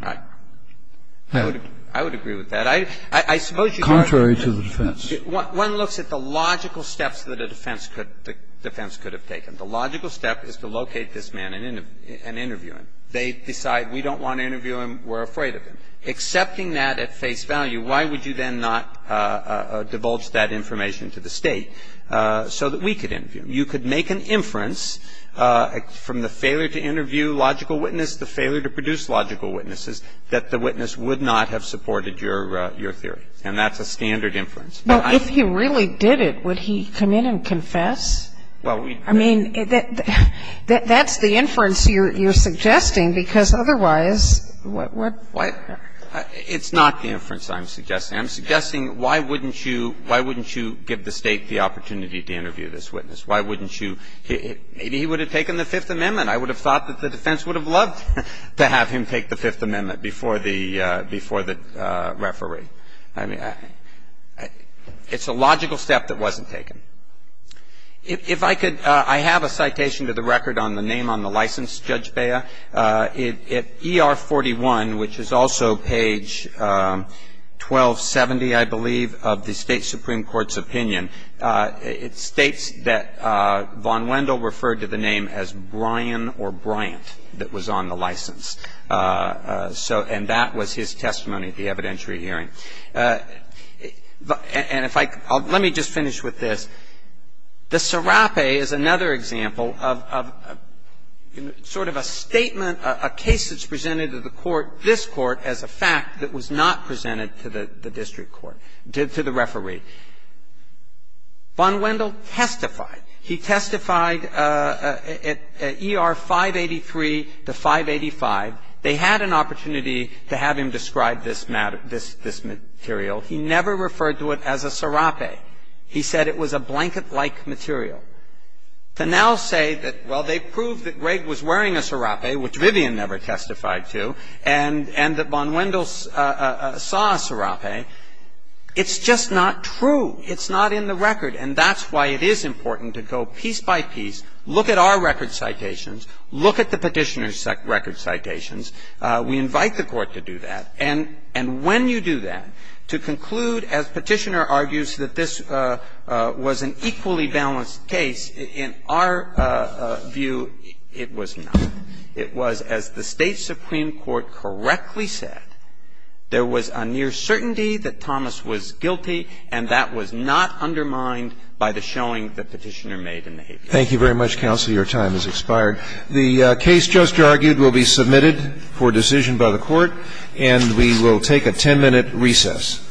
I would agree with that. I suppose you are. Contrary to the defense. One looks at the logical steps that a defense could have taken. The logical step is to locate this man and interview him. They decide we don't want to interview him. We're afraid of him. Accepting that at face value, why would you then not divulge that information to the State so that we could interview him? You could make an inference from the failure to interview logical witness, the failure to produce logical witnesses, that the witness would not have supported your theory. And that's a standard inference. If he really did it, would he come in and confess? I mean, that's the inference you're suggesting, because otherwise, what would happen? It's not the inference I'm suggesting. I'm suggesting, why wouldn't you give the State the opportunity to interview this witness? Why wouldn't you? Maybe he would have taken the Fifth Amendment. I would have thought that the defense would have loved to have him take the Fifth Amendment before the referee. I mean, it's a logical step that wasn't taken. If I could, I have a citation to the record on the name on the license, Judge Bea. At ER 41, which is also page 1270, I believe, of the State Supreme Court's opinion, it states that Von Wendell referred to the name as Brian or Bryant that was on the license. And that was his testimony at the evidentiary hearing. And if I could, let me just finish with this. The serape is another example of sort of a statement, a case that's presented to the court, this court, as a fact that was not presented to the district court, to the referee. Von Wendell testified. He testified at ER 583 to 585. They had an opportunity to have him describe this material. He never referred to it as a serape. He said it was a blanket-like material. To now say that, well, they proved that Greg was wearing a serape, which Vivian never testified to, and that Von Wendell saw a serape, it's just not true. It's not in the record. And that's why it is important to go piece by piece, look at our record citations, look at the Petitioner's record citations. We invite the court to do that. And when you do that, to conclude, as Petitioner argues, that this was an equally balanced case, in our view, it was not. It was, as the State Supreme Court correctly said, there was a near certainty that Thomas was guilty, and that was not undermined by the showing that Petitioner made in the hate case. Thank you very much, counsel. Your time has expired. The case just argued will be submitted for decision by the Court, and we will take a 10-minute recess.